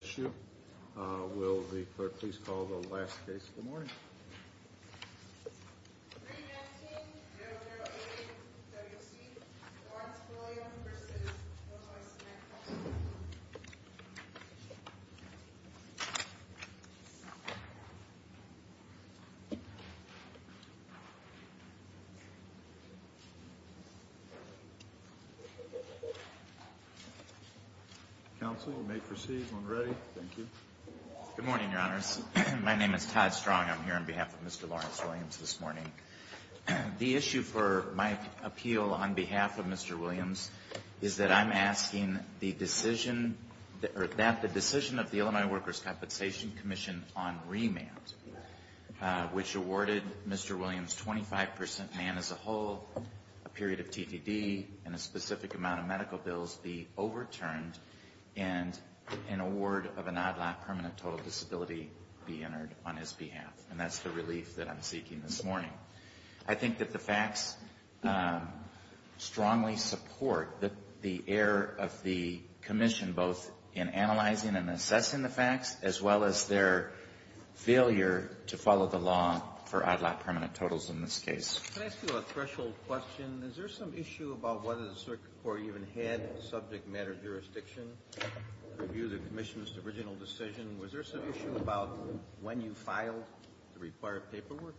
issue. Will the clerk please call the last case of the morning? 319-008-WC, Lawrence Williams v. No Voice in the House. Counsel, you may proceed when ready. Thank you. Good morning, Your Honors. My name is Todd Strong. I'm here on behalf of Mr. Lawrence Williams this morning. The issue for my appeal on behalf of Mr. Williams is that I'm asking that the decision of the Illinois Workers' Compensation Commission on remand, which awarded Mr. Williams 25 percent man as a whole, a period of TDD, and a specific amount of medical bills be overturned, and an award of an odd lot permanent total disability be entered on his behalf. And that's the relief that I'm seeking this morning. I think that the facts strongly support the error of the commission, both in analyzing and assessing the facts, as well as their failure to follow the law for odd lot permanent totals in this case. Can I ask you a threshold question? Is there some issue about whether the circuit court even had subject matter jurisdiction to review the commission's original decision? Was there some issue about when you filed the required paperwork?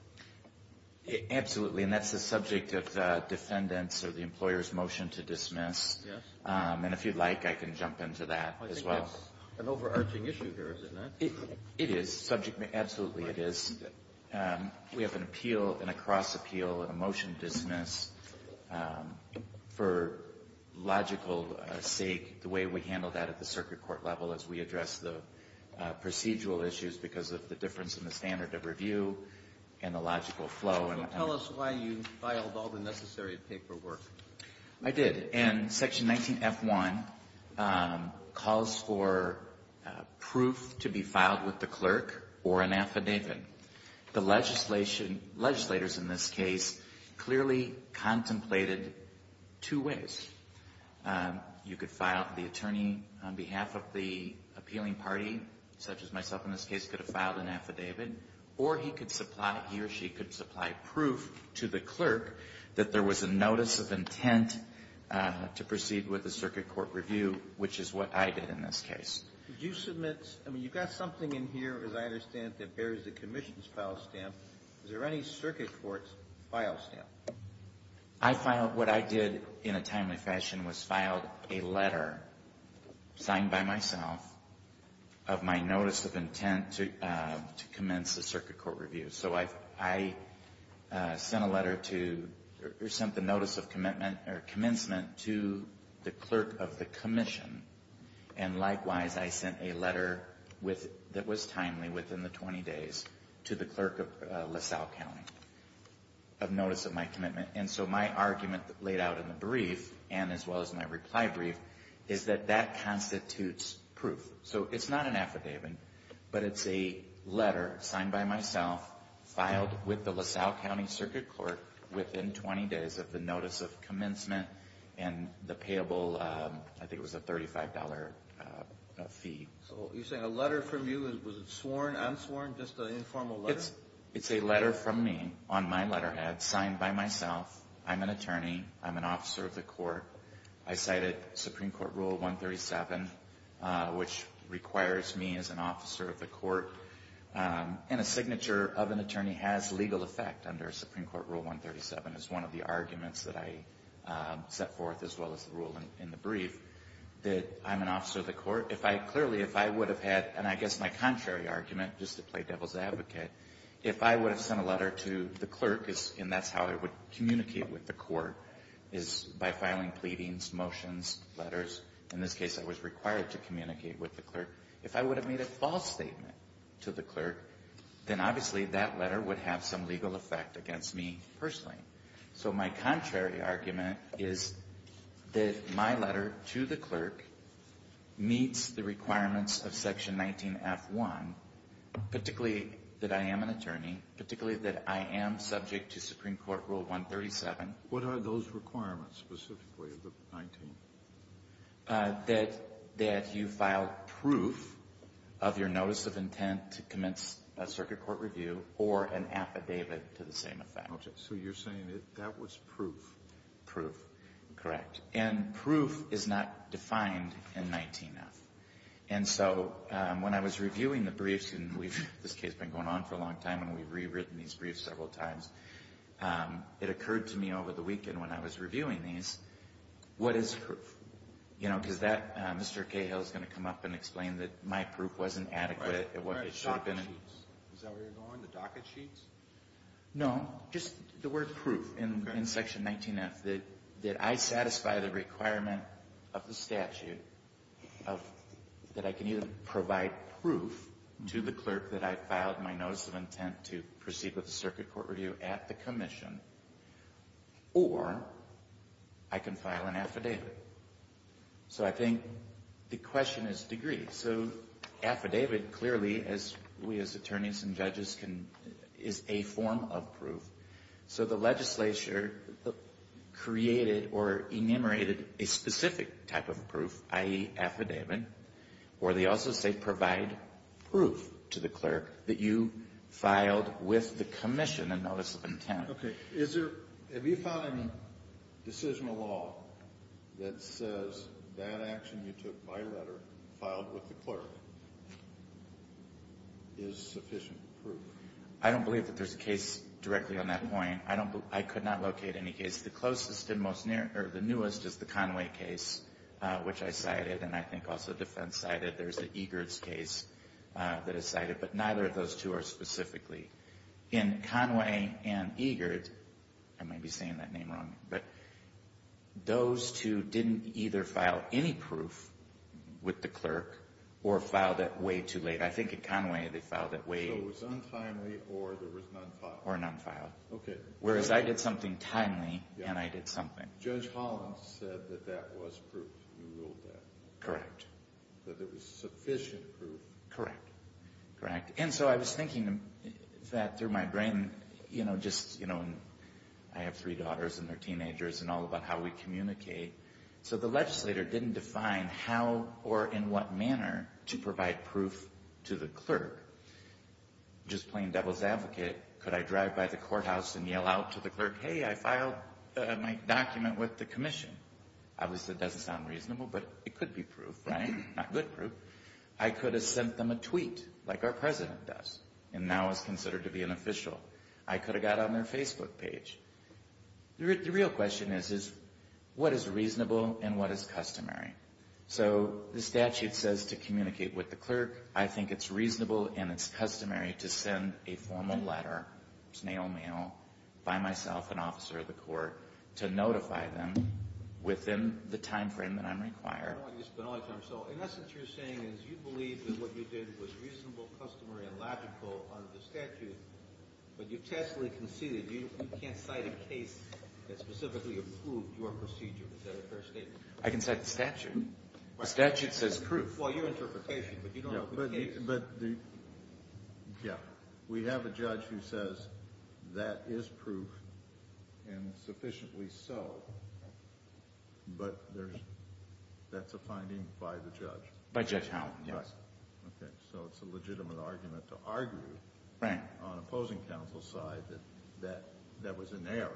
Absolutely. And that's the subject of the defendant's or the employer's motion to dismiss. Yes. And if you'd like, I can jump into that as well. I think that's an overarching issue here, isn't it? It is. Subject matter. Absolutely, it is. We have an appeal and a cross appeal and a motion to dismiss. For logical sake, the way we handle that at the circuit court level is we address the procedural issues because of the difference in the standard of review and the logical flow. So tell us why you filed all the necessary paperwork. I did. And Section 19F1 calls for proof to be filed with the clerk or an affidavit. The legislation, legislators in this case, clearly contemplated two ways. You could file the attorney on behalf of the appealing party, such as myself in this case, could have filed an affidavit. Or he could supply, he or she could supply proof to the clerk that there was a notice of intent to proceed with a circuit court review, which is what I did in this case. You submit, I mean, you've got something in here, as I understand it, that bears the commission's file stamp. Is there any circuit court's file stamp? I filed, what I did in a timely fashion was filed a letter signed by myself of my notice of intent to commence the circuit court review. So I sent a letter to, or sent the notice of commencement to the clerk of the commission. And likewise, I sent a letter that was timely, within the 20 days, to the clerk of LaSalle County of notice of my commitment. And so my argument laid out in the brief, and as well as my reply brief, is that that constitutes proof. So it's not an affidavit, but it's a letter signed by myself, filed with the LaSalle County Circuit Court within 20 days of the notice of commencement and the payable, I think it was a $35 fee. So you're saying a letter from you, was it sworn, unsworn, just an informal letter? It's a letter from me, on my letterhead, signed by myself. I'm an attorney. I'm an officer of the court. I cited Supreme Court Rule 137, which requires me as an officer of the court. And a signature of an attorney has legal effect under Supreme Court Rule 137. It's one of the arguments that I set forth, as well as the rule in the brief, that I'm an officer of the court. If I, clearly, if I would have had, and I guess my contrary argument, just to play devil's advocate, if I would have sent a letter to the clerk, and that's how I would communicate with the court, is by filing pleadings, motions, letters. In this case, I was required to communicate with the clerk. If I would have made a false statement to the clerk, then obviously that letter would have some legal effect against me personally. So my contrary argument is that my letter to the clerk meets the requirements of Section 19F1, particularly that I am an attorney, particularly that I am subject to Supreme Court Rule 137. What are those requirements specifically of the 19th? That you file proof of your notice of intent to commence a circuit court review or an affidavit to the same effect. Okay. So you're saying that was proof? Proof. Correct. And proof is not defined in 19F. And so when I was reviewing the briefs, and we've, this case has been going on for a long time, and we've rewritten these briefs several times, it occurred to me over the weekend when I was reviewing these, what is proof? You know, because that, Mr. Cahill is going to come up and explain that my proof wasn't adequate. Right. Docket sheets. Is that where you're going, the docket sheets? No. Just the word proof in Section 19F, that I satisfy the requirement of the statute of, that I can either provide proof to the clerk that I filed my notice of intent to proceed with the circuit court review at the commission, or I can file an affidavit. So I think the question is degree. Okay. So affidavit clearly, as we as attorneys and judges can, is a form of proof. So the legislature created or enumerated a specific type of proof, i.e., affidavit, where they also say provide proof to the clerk that you filed with the commission a notice of intent. Okay. Is there, have you found any decision of law that says that action you took by letter, filed with the clerk, is sufficient proof? I don't believe that there's a case directly on that point. I don't believe, I could not locate any case. The closest and most near, or the newest is the Conway case, which I cited, and I think also defense cited. There's the Egers case that is cited. But neither of those two are specifically. In Conway and Egers, I may be saying that name wrong, but those two didn't either file any proof with the clerk or filed it way too late. I think at Conway they filed it way too late. So it was untimely or there was non-filed? Or non-filed. Okay. Whereas I did something timely and I did something. Judge Holland said that that was proof. You ruled that. Correct. That there was sufficient proof. Correct. Correct. And so I was thinking that through my brain, you know, just, you know, I have three daughters and they're teenagers and all about how we communicate. So the legislator didn't define how or in what manner to provide proof to the clerk. Just plain devil's advocate, could I drive by the courthouse and yell out to the clerk, hey, I filed my document with the commission? Obviously it doesn't sound reasonable, but it could be proof, right? Not good proof. I could have sent them a tweet like our president does and now is considered to be an official. I could have got on their Facebook page. The real question is what is reasonable and what is customary? So the statute says to communicate with the clerk. I think it's reasonable and it's customary to send a formal letter, snail mail, by myself, an officer of the court, to notify them within the timeframe that I'm required. So in essence what you're saying is you believe that what you did was reasonable, customary, and logical under the statute, but you've tacitly conceded. You can't cite a case that specifically approved your procedure. Is that a fair statement? I can cite the statute. The statute says proof. Well, your interpretation, but you don't have the case. Yeah. We have a judge who says that is proof and sufficiently so, but that's a finding by the judge. By Judge Howland, yes. Okay. So it's a legitimate argument to argue on opposing counsel's side that that was in error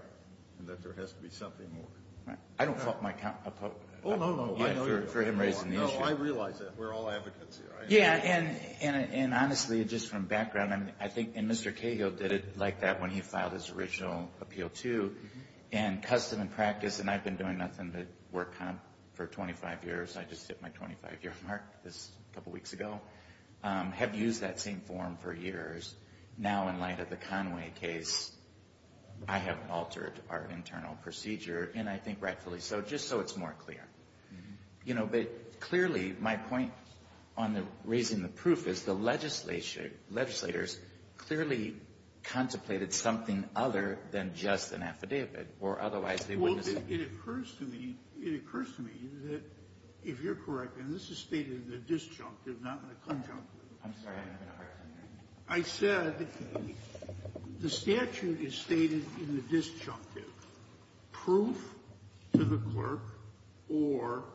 and that there has to be something more. I don't fault my counsel. Oh, no, no. For him raising the issue. No, I realize that. We're all advocates here. Yeah, and honestly, just from background, I think Mr. Cahill did it like that when he filed his original appeal too, and custom and practice, and I've been doing nothing but work for 25 years. I just hit my 25-year mark a couple weeks ago. Have used that same form for years. Now, in light of the Conway case, I have altered our internal procedure, and I think rightfully so, just so it's more clear. You know, but clearly, my point on the raising the proof is the legislature legislators clearly contemplated something other than just an affidavit, or otherwise they wouldn't have seen it. Well, it occurs to me, it occurs to me that if you're correct, and this is stated in the disjunctive, not in the conjunctive, I said the statute is stated in the disjunctive proof to the clerk or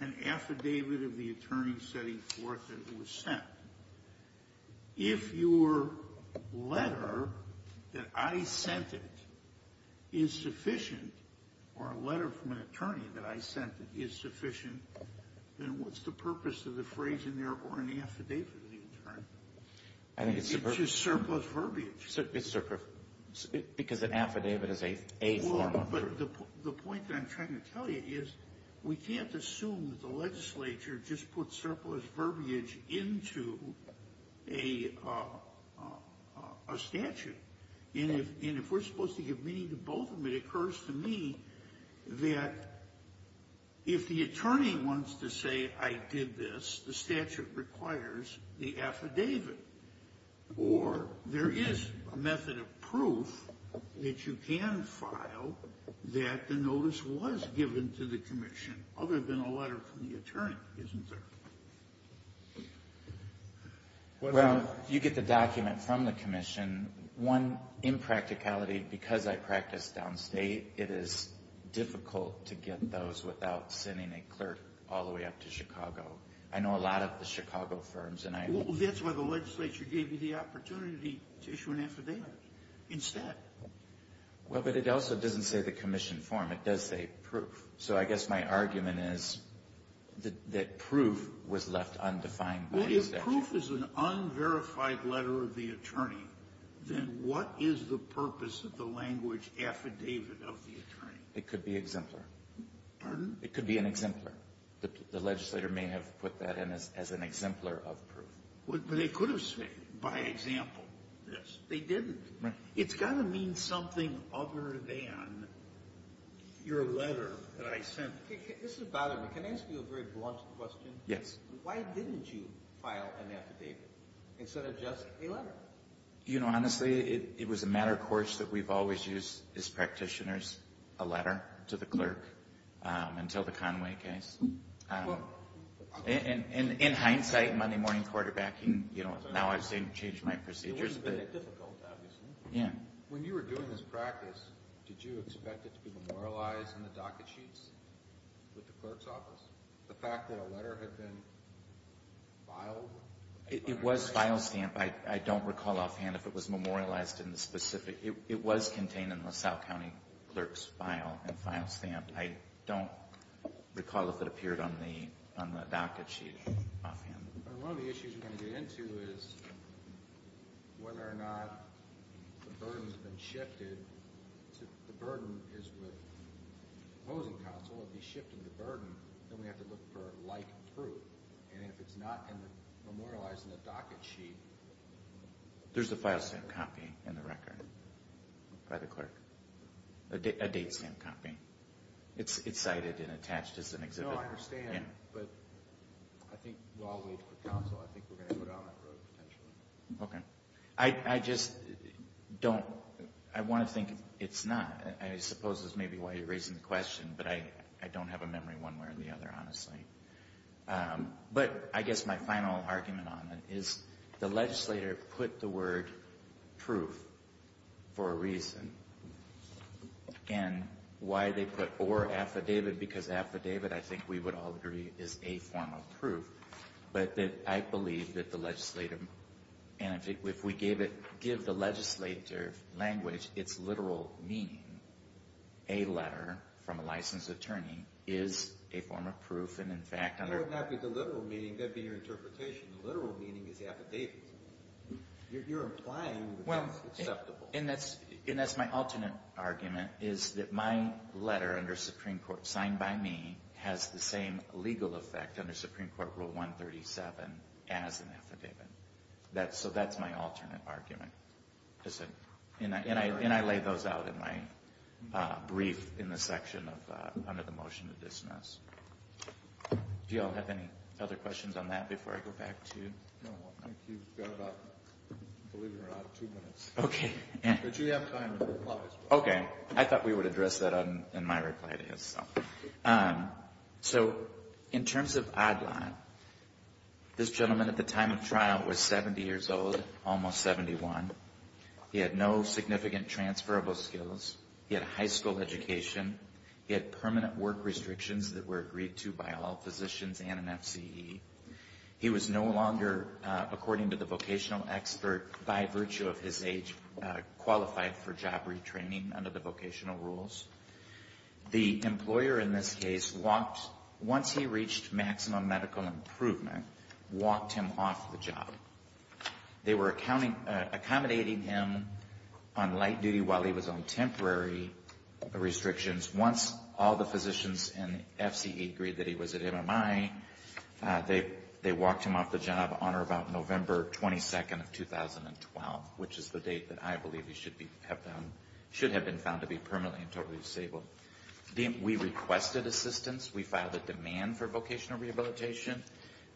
an affidavit of the attorney setting forth that it was sent. If your letter that I sent it is sufficient, or a letter from an attorney that I sent it is sufficient, then what's the purpose of the phrase in there or an affidavit of the attorney? It's just surplus verbiage. Because an affidavit is a form of proof. Well, but the point that I'm trying to tell you is we can't assume that the legislature just puts surplus verbiage into a statute. And if we're supposed to give meaning to both of them, it occurs to me that if the attorney wants to say I did this, the statute requires the affidavit. Or there is a method of proof that you can file that the notice was given to the commission other than a letter from the attorney, isn't there? Well, you get the document from the commission. One, in practicality, because I practice downstate, it is difficult to get those without sending a clerk all the way up to Chicago. I know a lot of the Chicago firms, and I don't know. Well, that's why the legislature gave you the opportunity to issue an affidavit instead. Well, but it also doesn't say the commission form. It does say proof. So I guess my argument is that proof was left undefined by the statute. Well, if proof is an unverified letter of the attorney, then what is the purpose of the language affidavit of the attorney? It could be exemplar. Pardon? It could be an exemplar. The legislature may have put that in as an exemplar of proof. But they could have said, by example, this. They didn't. Right. It's got to mean something other than your letter that I sent. This is bothering me. Can I ask you a very blunt question? Yes. Why didn't you file an affidavit instead of just a letter? You know, honestly, it was a matter of course that we've always used as practitioners a letter to the clerk until the Conway case. In hindsight, Monday morning quarterbacking, you know, now I've changed my procedures. It would have been difficult, obviously. Yeah. When you were doing this practice, did you expect it to be memorialized in the docket sheets with the clerk's office? The fact that a letter had been filed? It was file stamped. I don't recall offhand if it was memorialized in the specific. It was contained in LaSalle County Clerk's file and file stamped. I don't recall if it appeared on the docket sheet offhand. One of the issues we're going to get into is whether or not the burden has been shifted. If the burden is with opposing counsel, if he shifted the burden, then we have to look for like proof. And if it's not memorialized in the docket sheet. There's a file stamped copy in the record by the clerk. A date stamped copy. It's cited and attached as an exhibit. No, I understand. But I think while we wait for counsel, I think we're going to go down that road potentially. Okay. I just don't. I want to think it's not. I suppose this may be why you're raising the question, but I don't have a memory one way or the other, honestly. But I guess my final argument on it is the legislator put the word proof for a reason. And why they put or affidavit, because affidavit, I think we would all agree, is a form of proof. But I believe that the legislator, and if we give the legislator language its literal meaning, a letter from a licensed attorney is a form of proof. It would not be the literal meaning. That would be your interpretation. The literal meaning is affidavit. You're implying that it's acceptable. And that's my alternate argument is that my letter under Supreme Court signed by me has the same legal effect under Supreme Court Rule 137 as an affidavit. So that's my alternate argument. And I lay those out in my brief in the section under the motion to dismiss. Do you all have any other questions on that before I go back to you? No, I think you've got about, I believe you're about two minutes. Okay. But you have time to reply as well. Okay. I thought we would address that in my reply to you. So in terms of Adlon, this gentleman at the time of trial was 70 years old, almost 71. He had no significant transferable skills. He had a high school education. He had permanent work restrictions that were agreed to by all physicians and an FCE. He was no longer, according to the vocational expert, by virtue of his age, qualified for job retraining under the vocational rules. The employer, in this case, once he reached maximum medical improvement, walked him off the job. They were accommodating him on light duty while he was on temporary restrictions. Once all the physicians and the FCE agreed that he was at MMI, they walked him off the job on or about November 22nd of 2012, which is the date that I believe he should have been found to be permanently and totally disabled. We requested assistance. We filed a demand for vocational rehabilitation.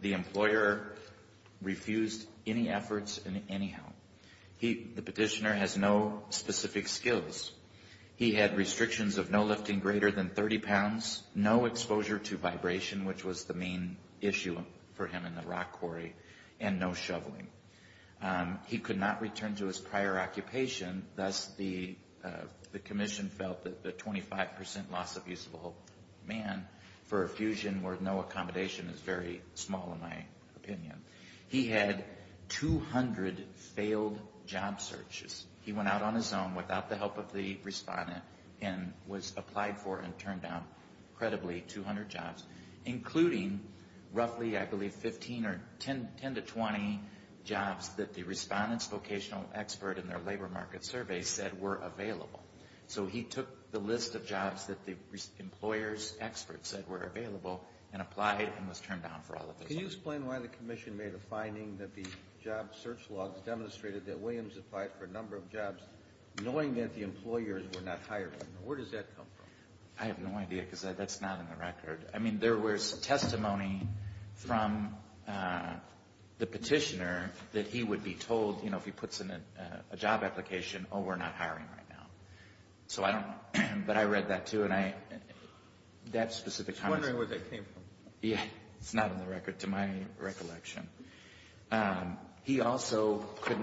The employer refused any efforts anyhow. The petitioner has no specific skills. He had restrictions of no lifting greater than 30 pounds, no exposure to vibration, which was the main issue for him in the rock quarry, and no shoveling. He could not return to his prior occupation. Thus, the commission felt that the 25 percent loss of usable man for a fusion where no accommodation is very small in my opinion. He had 200 failed job searches. He went out on his own without the help of the respondent and was applied for and turned down credibly 200 jobs, including roughly I believe 15 or 10 to 20 jobs that the respondent's vocational expert in their labor market survey said were available. So he took the list of jobs that the employer's expert said were available and applied and was turned down for all of those jobs. Can you explain why the commission made a finding that the job search logs demonstrated that Williams applied for a number of jobs knowing that the employers were not hiring him? Where does that come from? I have no idea because that's not in the record. I mean, there was testimony from the petitioner that he would be told, you know, if he puts in a job application, oh, we're not hiring right now. So I don't know. But I read that, too, and that specific comment. I was wondering where that came from. Yeah. It's not in the record to my recollection. He also could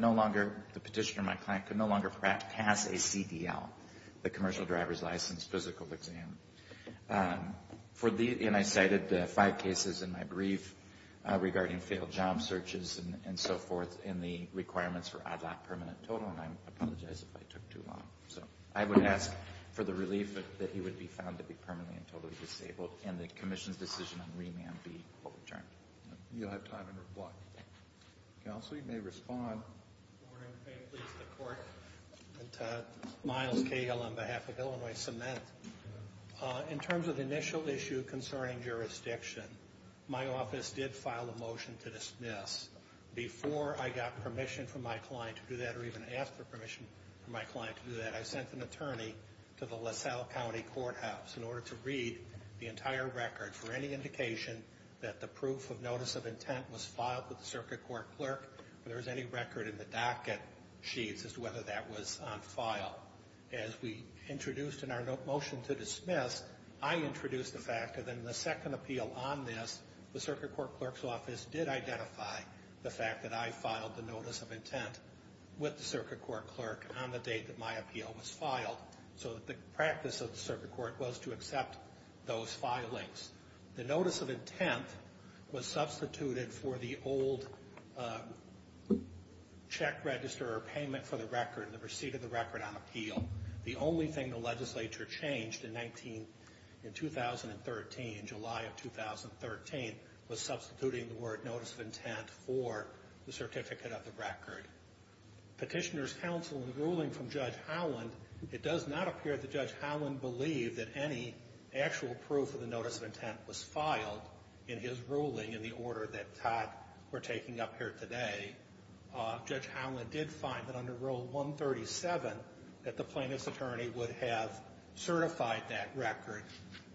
no longer, the petitioner, my client, could no longer pass a CDL, the commercial driver's license physical exam. And I cited five cases in my brief regarding failed job searches and so forth and the requirements for ad hoc permanent total, and I apologize if I took too long. So I would ask for the relief that he would be found to be permanently and totally disabled and the commission's decision on remand be overturned. You don't have time to reply. Counsel, you may respond. Good morning. Please, the court. Miles Cahill on behalf of Illinois Cement. In terms of the initial issue concerning jurisdiction, my office did file a motion to dismiss. Before I got permission from my client to do that or even after permission from my client to do that, I sent an attorney to the LaSalle County Courthouse in order to read the entire record for any indication that the proof of notice of intent was filed with the circuit court clerk or there was any record in the docket sheets as to whether that was on file. As we introduced in our motion to dismiss, I introduced the fact that in the second appeal on this, the circuit court clerk's office did identify the fact that I filed the notice of intent with the circuit court clerk on the date that my appeal was filed, so that the practice of the circuit court was to accept those filings. The notice of intent was substituted for the old check register or payment for the record, the receipt of the record on appeal. The only thing the legislature changed in 2013, in July of 2013, was substituting the word notice of intent for the certificate of the record. Petitioner's counsel in the ruling from Judge Howland, it does not appear that Judge Howland believed that any actual proof of the notice of intent was filed in his ruling in the order that Todd, we're taking up here today. Judge Howland did find that under Rule 137 that the plaintiff's attorney would have certified that record.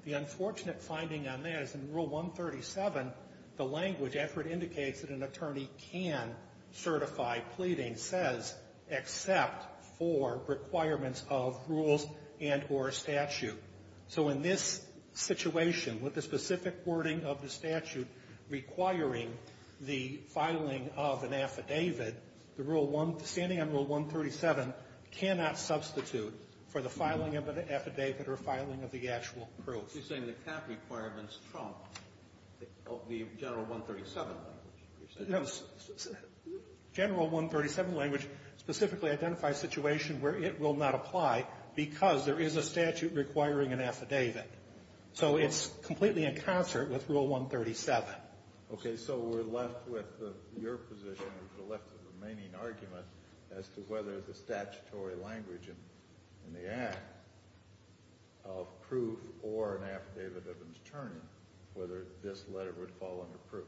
The unfortunate finding on that is in Rule 137, the language effort indicates that an attorney can certify pleading, says except for requirements of rules and or statute. So in this situation, with the specific wording of the statute requiring the filing of an affidavit, the Rule 137 cannot substitute for the filing of an affidavit or filing of the actual proof. You're saying the cap requirements trump the General 137 language. General 137 language specifically identifies situations where it will not apply because there is a statute requiring an affidavit. So it's completely in concert with Rule 137. Okay, so we're left with your position, we're left with the remaining argument as to whether the statutory language in the act of proof or an affidavit of an attorney, whether this letter would fall under proof.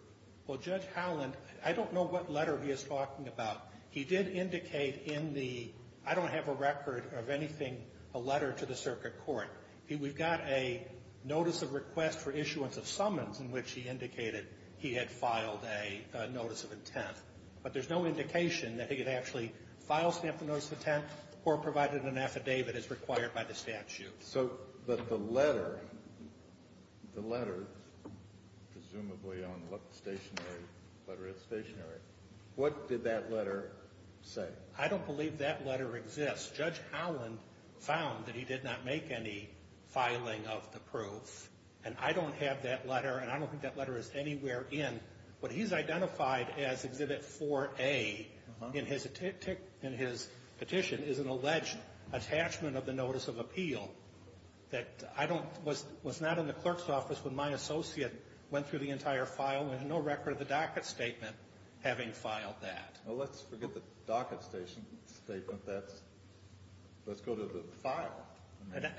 Well, Judge Howland, I don't know what letter he is talking about. He did indicate in the, I don't have a record of anything, a letter to the circuit court. We've got a notice of request for issuance of summons in which he indicated he had filed a notice of intent. But there's no indication that he had actually filed a notice of intent or provided an affidavit as required by the statute. So, but the letter, the letter, presumably on stationary, the letter is stationary, what did that letter say? I don't believe that letter exists. Judge Howland found that he did not make any filing of the proof. And I don't have that letter, and I don't think that letter is anywhere in, what he's identified as Exhibit 4A in his petition is an alleged attachment of the notice of appeal that I don't, was not in the clerk's office when my associate went through the entire file with no record of the docket statement having filed that. Well, let's forget the docket statement. That's, let's go to the file.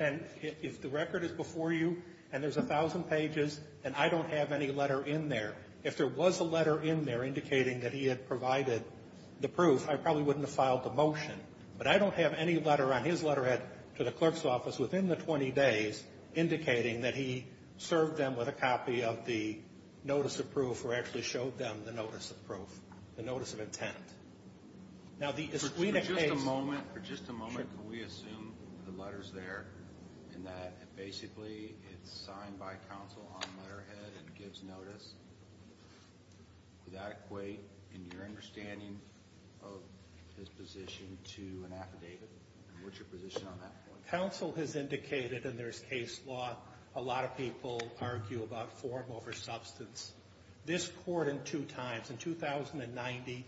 And if the record is before you and there's 1,000 pages and I don't have any letter in there, if there was a letter in there indicating that he had provided the proof, I probably wouldn't have filed the motion. But I don't have any letter on his letterhead to the clerk's office within the 20 days indicating that he served them with a copy of the notice of proof or actually showed them the notice of proof, the notice of intent. For just a moment, can we assume the letter's there and that basically it's signed by counsel on letterhead and gives notice? Does that equate in your understanding of his position to an affidavit? What's your position on that point? Counsel has indicated, and there's case law, a lot of people argue about form over substance. This court in two times, in 1990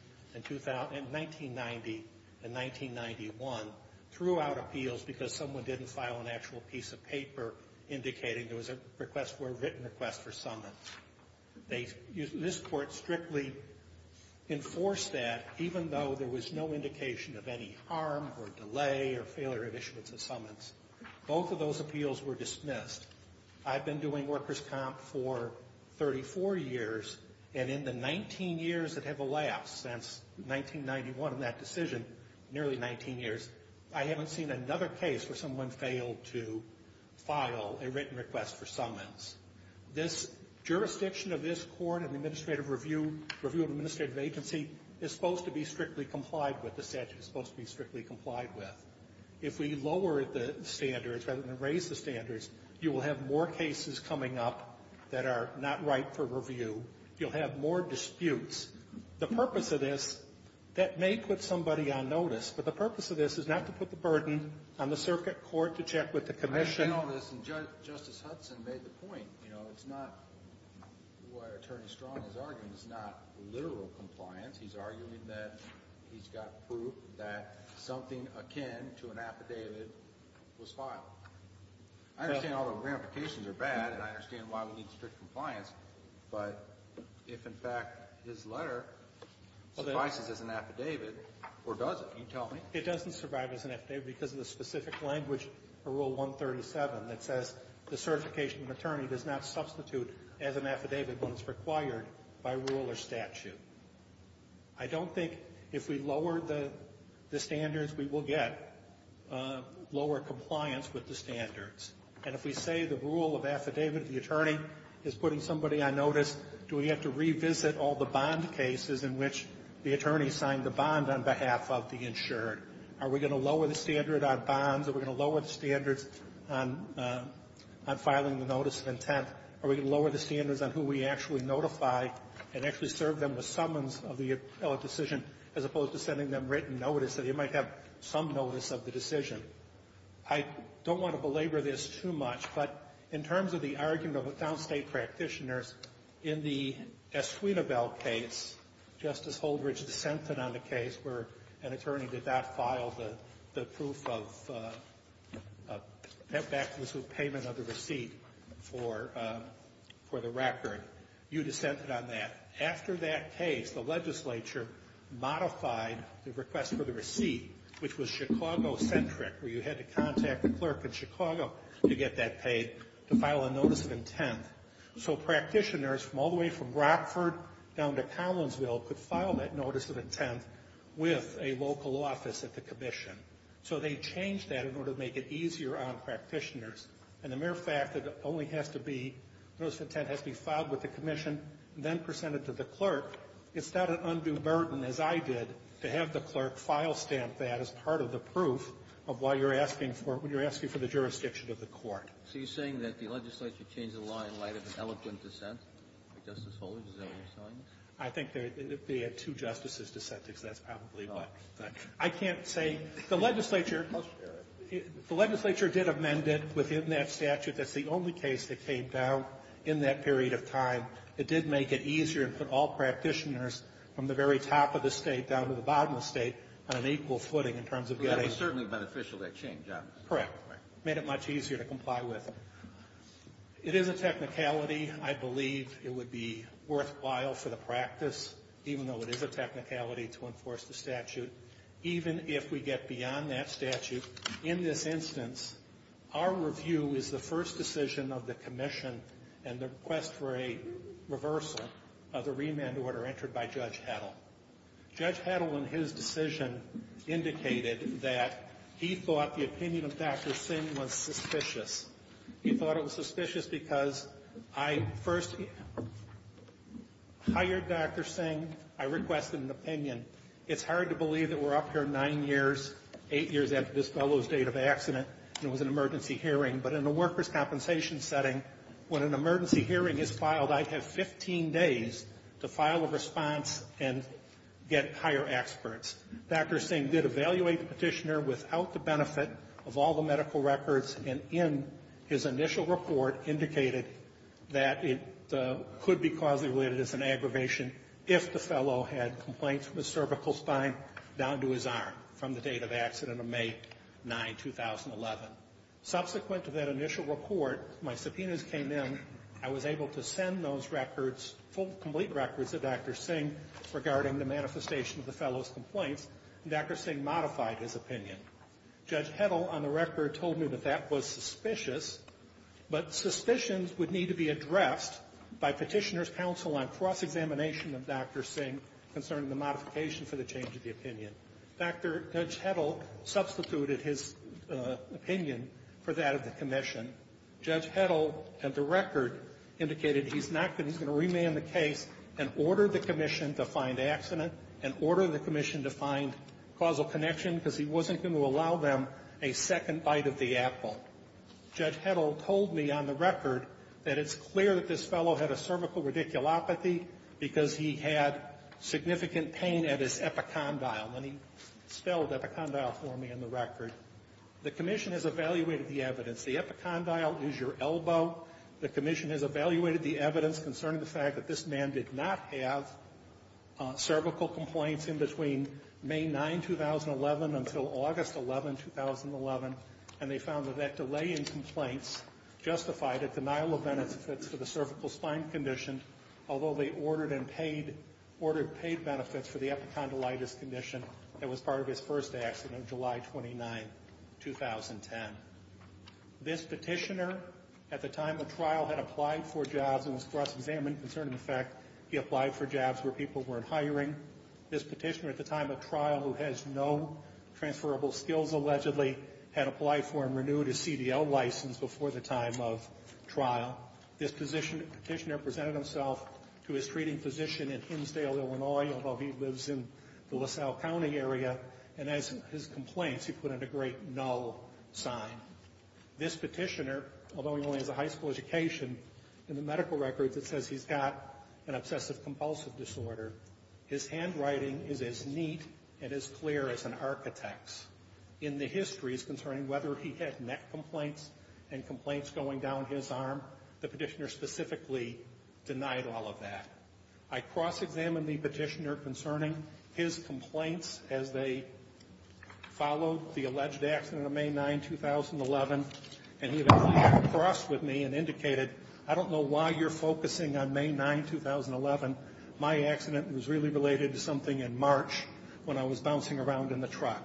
and 1991, threw out appeals because someone didn't file an actual piece of paper indicating there was a request for a written request for summons. This court strictly enforced that even though there was no indication of any harm or delay or failure of issuance of summons. Both of those appeals were dismissed. I've been doing workers' comp for 34 years, and in the 19 years that have elapsed since 1991 in that decision, nearly 19 years, I haven't seen another case where someone failed to file a written request for summons. This jurisdiction of this court and the review of administrative agency is supposed to be strictly complied with. The statute is supposed to be strictly complied with. If we lower the standards rather than raise the standards, you will have more cases coming up that are not right for review. You'll have more disputes. The purpose of this, that may put somebody on notice, but the purpose of this is not to put the burden on the circuit court to check with the commission. I know this, and Justice Hudson made the point. You know, it's not what Attorney Strong is arguing. It's not literal compliance. He's arguing that he's got proof that something akin to an affidavit was filed. I understand all the ramifications are bad, and I understand why we need strict compliance, but if, in fact, his letter suffices as an affidavit, or does it? Can you tell me? It doesn't survive as an affidavit because of the specific language of Rule 137 that says the certification of attorney does not substitute as an affidavit when it's required by rule or statute. I don't think if we lower the standards, we will get lower compliance with the standards. And if we say the rule of affidavit, the attorney is putting somebody on notice, do we have to revisit all the bond cases in which the attorney signed the bond on behalf of the insured? Are we going to lower the standard on bonds? Are we going to lower the standards on filing the notice of intent? Are we going to lower the standards on who we actually notify and actually serve them with summons of the appellate decision as opposed to sending them written notice that they might have some notice of the decision? I don't want to belabor this too much, but in terms of the argument of downstate practitioners, in the Esquitabel case, Justice Holdridge dissented on the case where an attorney did not file the proof of payment of the receipt for the record. You dissented on that. After that case, the legislature modified the request for the receipt, which was Chicago-centric, where you had to contact the clerk in Chicago to get that paid, to file a notice of intent. So practitioners from all the way from Brockford down to Collinsville could file that notice of intent with a local office at the commission. So they changed that in order to make it easier on practitioners. And the mere fact that it only has to be, notice of intent has to be filed with the commission and then presented to the clerk, it's not an undue burden, as I did, to have the clerk file stamp that as part of the proof of why you're asking for it when you're asking for the jurisdiction of the court. So you're saying that the legislature changed the law in light of an eloquent dissent? Justice Holdridge, is that what you're saying? I think they had two justices dissenting, so that's probably what. I can't say. The legislature did amend it within that statute. That's the only case that came down in that period of time. It did make it easier and put all practitioners from the very top of the State down to the bottom of the State on an equal footing in terms of getting the results. Well, that was certainly beneficial, that change. Correct. Made it much easier to comply with. It is a technicality. I believe it would be worthwhile for the practice, even though it is a technicality, to enforce the statute, even if we get beyond that statute. In this instance, our review is the first decision of the commission and the request for a reversal of the remand order entered by Judge Heddle. Judge Heddle, in his decision, indicated that he thought the opinion of Dr. Singh was suspicious. He thought it was suspicious because I first hired Dr. Singh. I requested an opinion. It's hard to believe that we're up here nine years, eight years after this fellow's date of accident, and it was an emergency hearing, but in a workers' compensation setting, when an emergency hearing is filed, I have 15 days to file a response and get higher experts. Dr. Singh did evaluate the petitioner without the benefit of all the medical records, and in his initial report indicated that it could be causally related as an aggravation if the fellow had complaints from the cervical spine down to his arm from the date of accident of May 9, 2011. Subsequent to that initial report, my subpoenas came in. I was able to send those records, full, complete records of Dr. Singh, regarding the manifestation of the fellow's complaints, and Dr. Singh modified his opinion. Judge Heddle, on the record, told me that that was suspicious, but suspicions would need to be addressed by petitioner's counsel on cross-examination of Dr. Singh concerning the modification for the change of the opinion. Dr. Heddle substituted his opinion for that of the commission. Judge Heddle, at the record, indicated he's not going to remand the case and order the commission to find accident and order the commission to find causal connection because he wasn't going to allow them a second bite of the apple. Judge Heddle told me on the record that it's clear that this fellow had a cervical radiculopathy because he had significant pain at his epicondyle. And he spelled epicondyle for me on the record. The commission has evaluated the evidence. The epicondyle is your elbow. The commission has evaluated the evidence concerning the fact that this man did not have cervical complaints in between May 9, 2011 until August 11, 2011, and they found that that delay in complaints justified a denial of benefits for the cervical spine condition, although they ordered paid benefits for the epicondylitis condition that was part of his first accident on July 29, 2010. This petitioner, at the time of trial, had applied for jobs and was cross-examined concerning the fact he applied for jobs where people weren't hiring. This petitioner, at the time of trial, who has no transferable skills, allegedly, had applied for and renewed his CDL license before the time of trial. This petitioner presented himself to his treating physician in Hinsdale, Illinois, although he lives in the LaSalle County area, and as his complaints, he put in a great null sign. This petitioner, although he only has a high school education, in the medical records it says he's got an obsessive-compulsive disorder. His handwriting is as neat and as clear as an architect's. In the histories concerning whether he had neck complaints and complaints going down his arm, the petitioner specifically denied all of that. I cross-examined the petitioner concerning his complaints as they followed the alleged accident of May 9, 2011, and he eventually came across with me and indicated, I don't know why you're focusing on May 9, 2011. My accident was really related to something in March when I was bouncing around in the truck.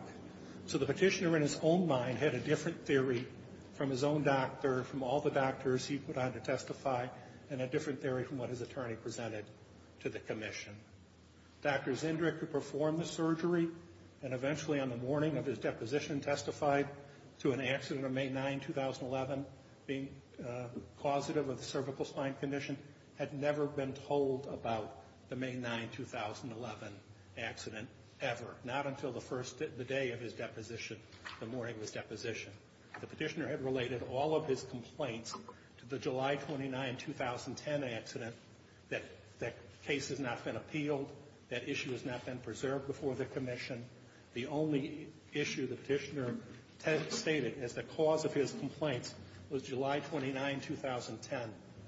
So the petitioner, in his own mind, had a different theory from his own doctor, from all the doctors he put on to testify, and a different theory from what his attorney presented to the commission. Dr. Zindrick, who performed the surgery and eventually, on the morning of his deposition, testified to an accident on May 9, 2011, being causative of the cervical spine condition, had never been told about the May 9, 2011 accident ever, not until the day of his deposition, the morning of his deposition. The petitioner had related all of his complaints to the July 29, 2010 accident. That case has not been appealed. That issue has not been preserved before the commission. The only issue the petitioner stated as the cause of his complaints was July 29, 2010,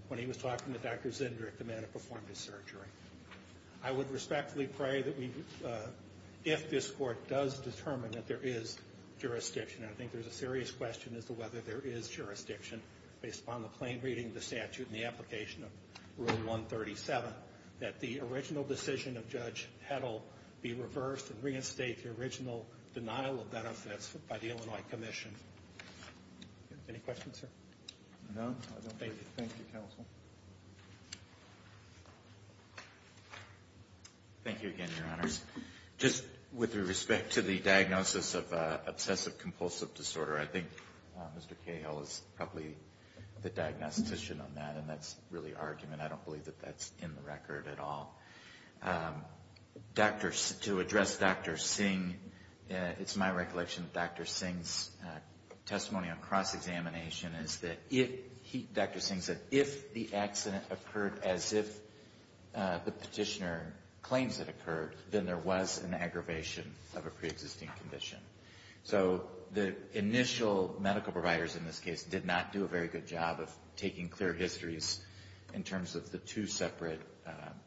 when he was talking to Dr. Zindrick, the man who performed his surgery. I would respectfully pray that we, if this court does determine that there is jurisdiction, and I think there's a serious question as to whether there is jurisdiction, based upon the plain reading of the statute and the application of Rule 137, that the original decision of Judge Heddle be reversed and reinstate the original denial of benefits by the Illinois Commission. Any questions, sir? None. Thank you. Thank you, counsel. Thank you again, Your Honors. Just with respect to the diagnosis of obsessive-compulsive disorder, I think Mr. Cahill is probably the diagnostician on that, and that's really argument. I don't believe that that's in the record at all. To address Dr. Singh, it's my recollection that Dr. Singh's testimony on cross-examination is that if, Dr. Singh said, if the accident occurred as if the petitioner claims it occurred, then there was an aggravation of a preexisting condition. So the initial medical providers in this case did not do a very good job of taking clear histories in terms of the two separate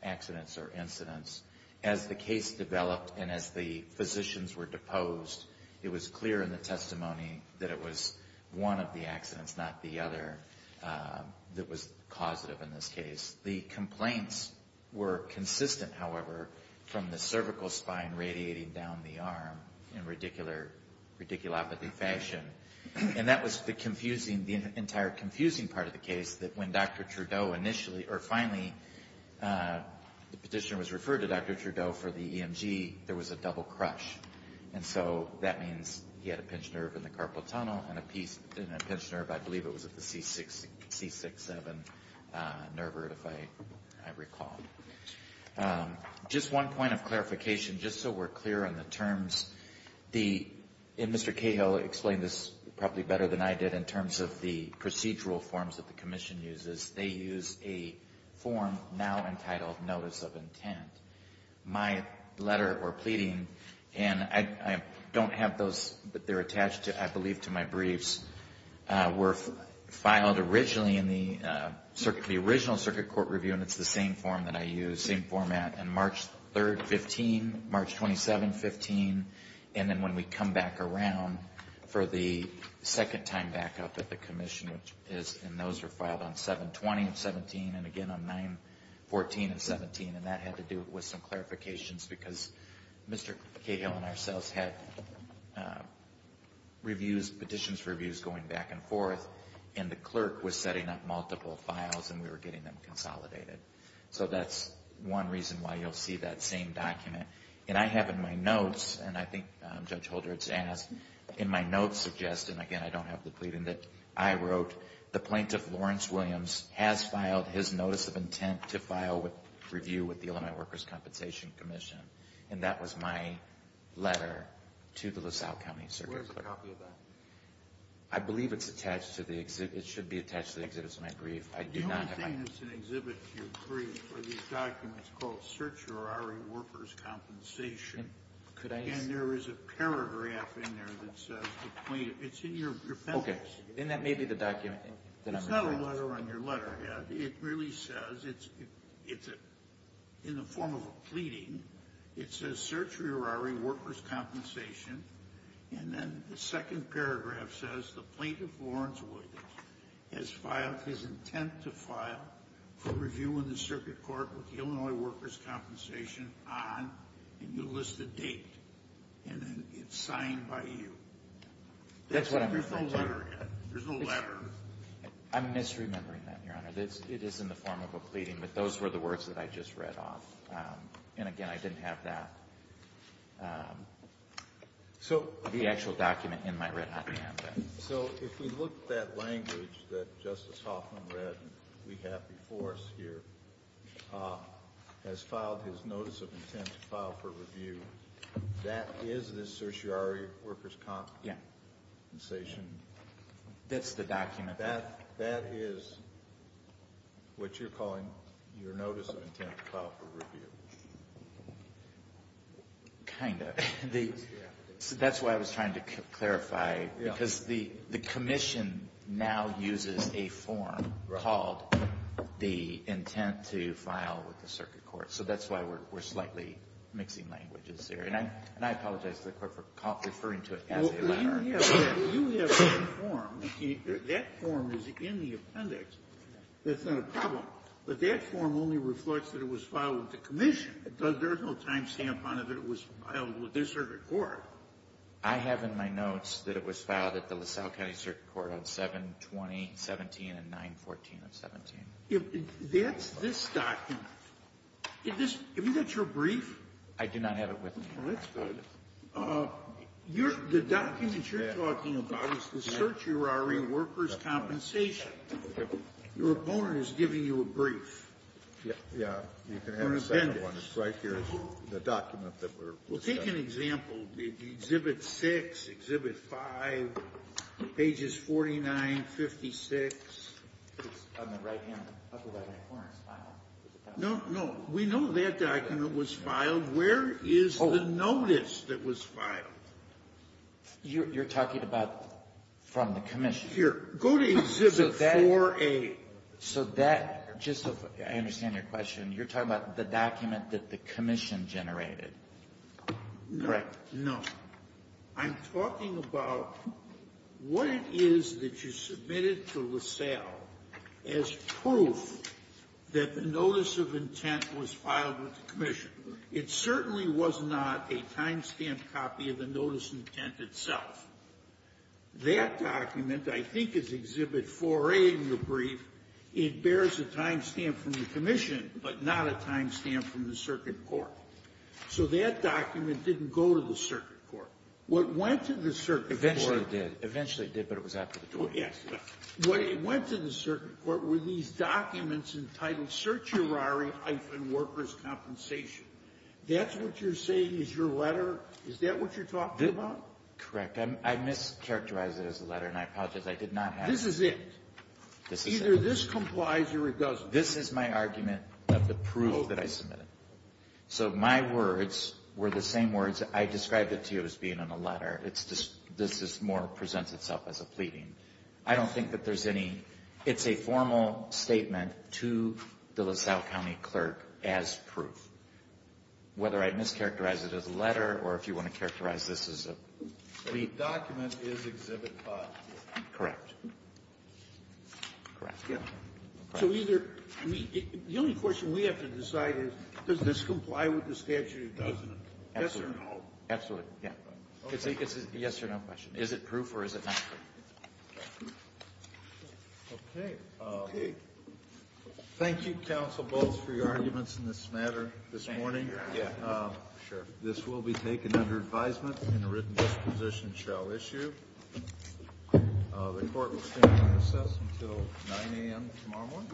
accidents or incidents. As the case developed and as the physicians were deposed, it was clear in the testimony that it was one of the accidents, not the other, that was causative in this case. The complaints were consistent, however, from the cervical spine radiating down the arm in a ridiculous fashion. And that was the confusing, the entire confusing part of the case, that when Dr. Trudeau initially, or finally the petitioner was referred to Dr. Trudeau for the EMG, there was a double crush. And so that means he had a pinched nerve in the carpal tunnel and a pinched nerve, I believe it was at the C6-7 nerve, if I recall. Just one point of clarification, just so we're clear on the terms. And Mr. Cahill explained this probably better than I did in terms of the procedural forms that the commission uses. They use a form now entitled Notice of Intent. My letter or pleading, and I don't have those, but they're attached, I believe, to my briefs, were filed originally in the original circuit court review, and it's the same form that I use, same format, on March 3rd, 15, March 27th, 15, and then when we come back around for the second time back up at the commission, which is, and those are filed on 7-20 of 17, and again on 9-14 of 17, and that had to do with some clarifications because Mr. Cahill and ourselves had reviews, petitions reviews going back and forth, and the clerk was setting up multiple files, and we were getting them consolidated. So that's one reason why you'll see that same document. And I have in my notes, and I think Judge Holder has asked, in my notes suggest, and again, I don't have the pleading that I wrote, the plaintiff, Lawrence Williams, has filed his Notice of Intent to file a review with the Illinois Workers' Compensation Commission, and that was my letter to the LaSalle County Circuit Court. Where's a copy of that? I believe it's attached to the exhibit. It should be attached to the exhibits in my brief. I do not have it. The only thing that's an exhibit in your brief are these documents called Searcher RE Workers' Compensation. Could I see? And there is a paragraph in there that says the plaintiff. It's in your pen. Okay. Then that may be the document. It's not a letter on your letterhead. It really says it's in the form of a pleading. It says Searcher RE Workers' Compensation. And then the second paragraph says the plaintiff, Lawrence Williams, has filed his intent to file for review in the circuit court with the Illinois Workers' Compensation on, and you list the date, and then it's signed by you. That's what I'm referring to. There's no letterhead. There's no letter. I'm misremembering that, Your Honor. It is in the form of a pleading, but those were the words that I just read off. And, again, I didn't have that, the actual document in my retina. So if we look at that language that Justice Hoffman read and we have before us here, has filed his notice of intent to file for review, that is the Searcher RE Workers' Compensation? Yeah. That's the document. That is what you're calling your notice of intent to file for review? Kind of. That's why I was trying to clarify, because the commission now uses a form called the intent to file with the circuit court. So that's why we're slightly mixing languages here. And I apologize to the Court for referring to it as a letter. Well, you have that form. That form is in the appendix. That's not a problem. But that form only reflects that it was filed with the commission. There is no time stamp on it that it was filed with the circuit court. I have in my notes that it was filed at the LaSalle County Circuit Court on 7-20-17 and 9-14-17. That's this document. Isn't that your brief? I do not have it with me. Well, that's good. The document you're talking about is the Searcher RE Workers' Compensation. Your opponent is giving you a brief. Yeah. You can have a second one. It's right here, the document that we're discussing. Well, take an example. Exhibit 6, Exhibit 5, pages 49, 56. It's on the right-hand upper right-hand corner. No, no. We know that document was filed. Where is the notice that was filed? You're talking about from the commission. Here. Go to Exhibit 4A. I understand your question. You're talking about the document that the commission generated, correct? No. I'm talking about what it is that you submitted to LaSalle as proof that the notice of intent was filed with the commission. It certainly was not a time-stamped copy of the notice intent itself. That document, I think, is Exhibit 4A in your brief. It bears a time-stamp from the commission, but not a time-stamp from the circuit court. So that document didn't go to the circuit court. What went to the circuit court — Eventually it did. Eventually it did, but it was after the court. Yes. What went to the circuit court were these documents entitled Searcher RE-Workers' Compensation. That's what you're saying is your letter? Is that what you're talking about? Correct. I mischaracterized it as a letter, and I apologize. I did not have it. This is it. This is it. Either this complies or it doesn't. This is my argument of the proof that I submitted. So my words were the same words I described it to you as being in a letter. It's just this more presents itself as a pleading. I don't think that there's any — it's a formal statement to the LaSalle County clerk as proof. Whether I mischaracterized it as a letter or if you want to characterize this as a plea. The document is Exhibit 5 here. Correct. Correct. Yes. So either — the only question we have to decide is, does this comply with the statute or doesn't it? Yes or no? Absolutely. Yes or no question. Is it proof or is it not proof? Okay. Okay. Thank you, Counsel Bolts, for your arguments in this matter this morning. Thank you. Yeah. Sure. This will be taken under advisement and a written disposition shall issue. The court will stand in recess until 9 a.m. tomorrow morning.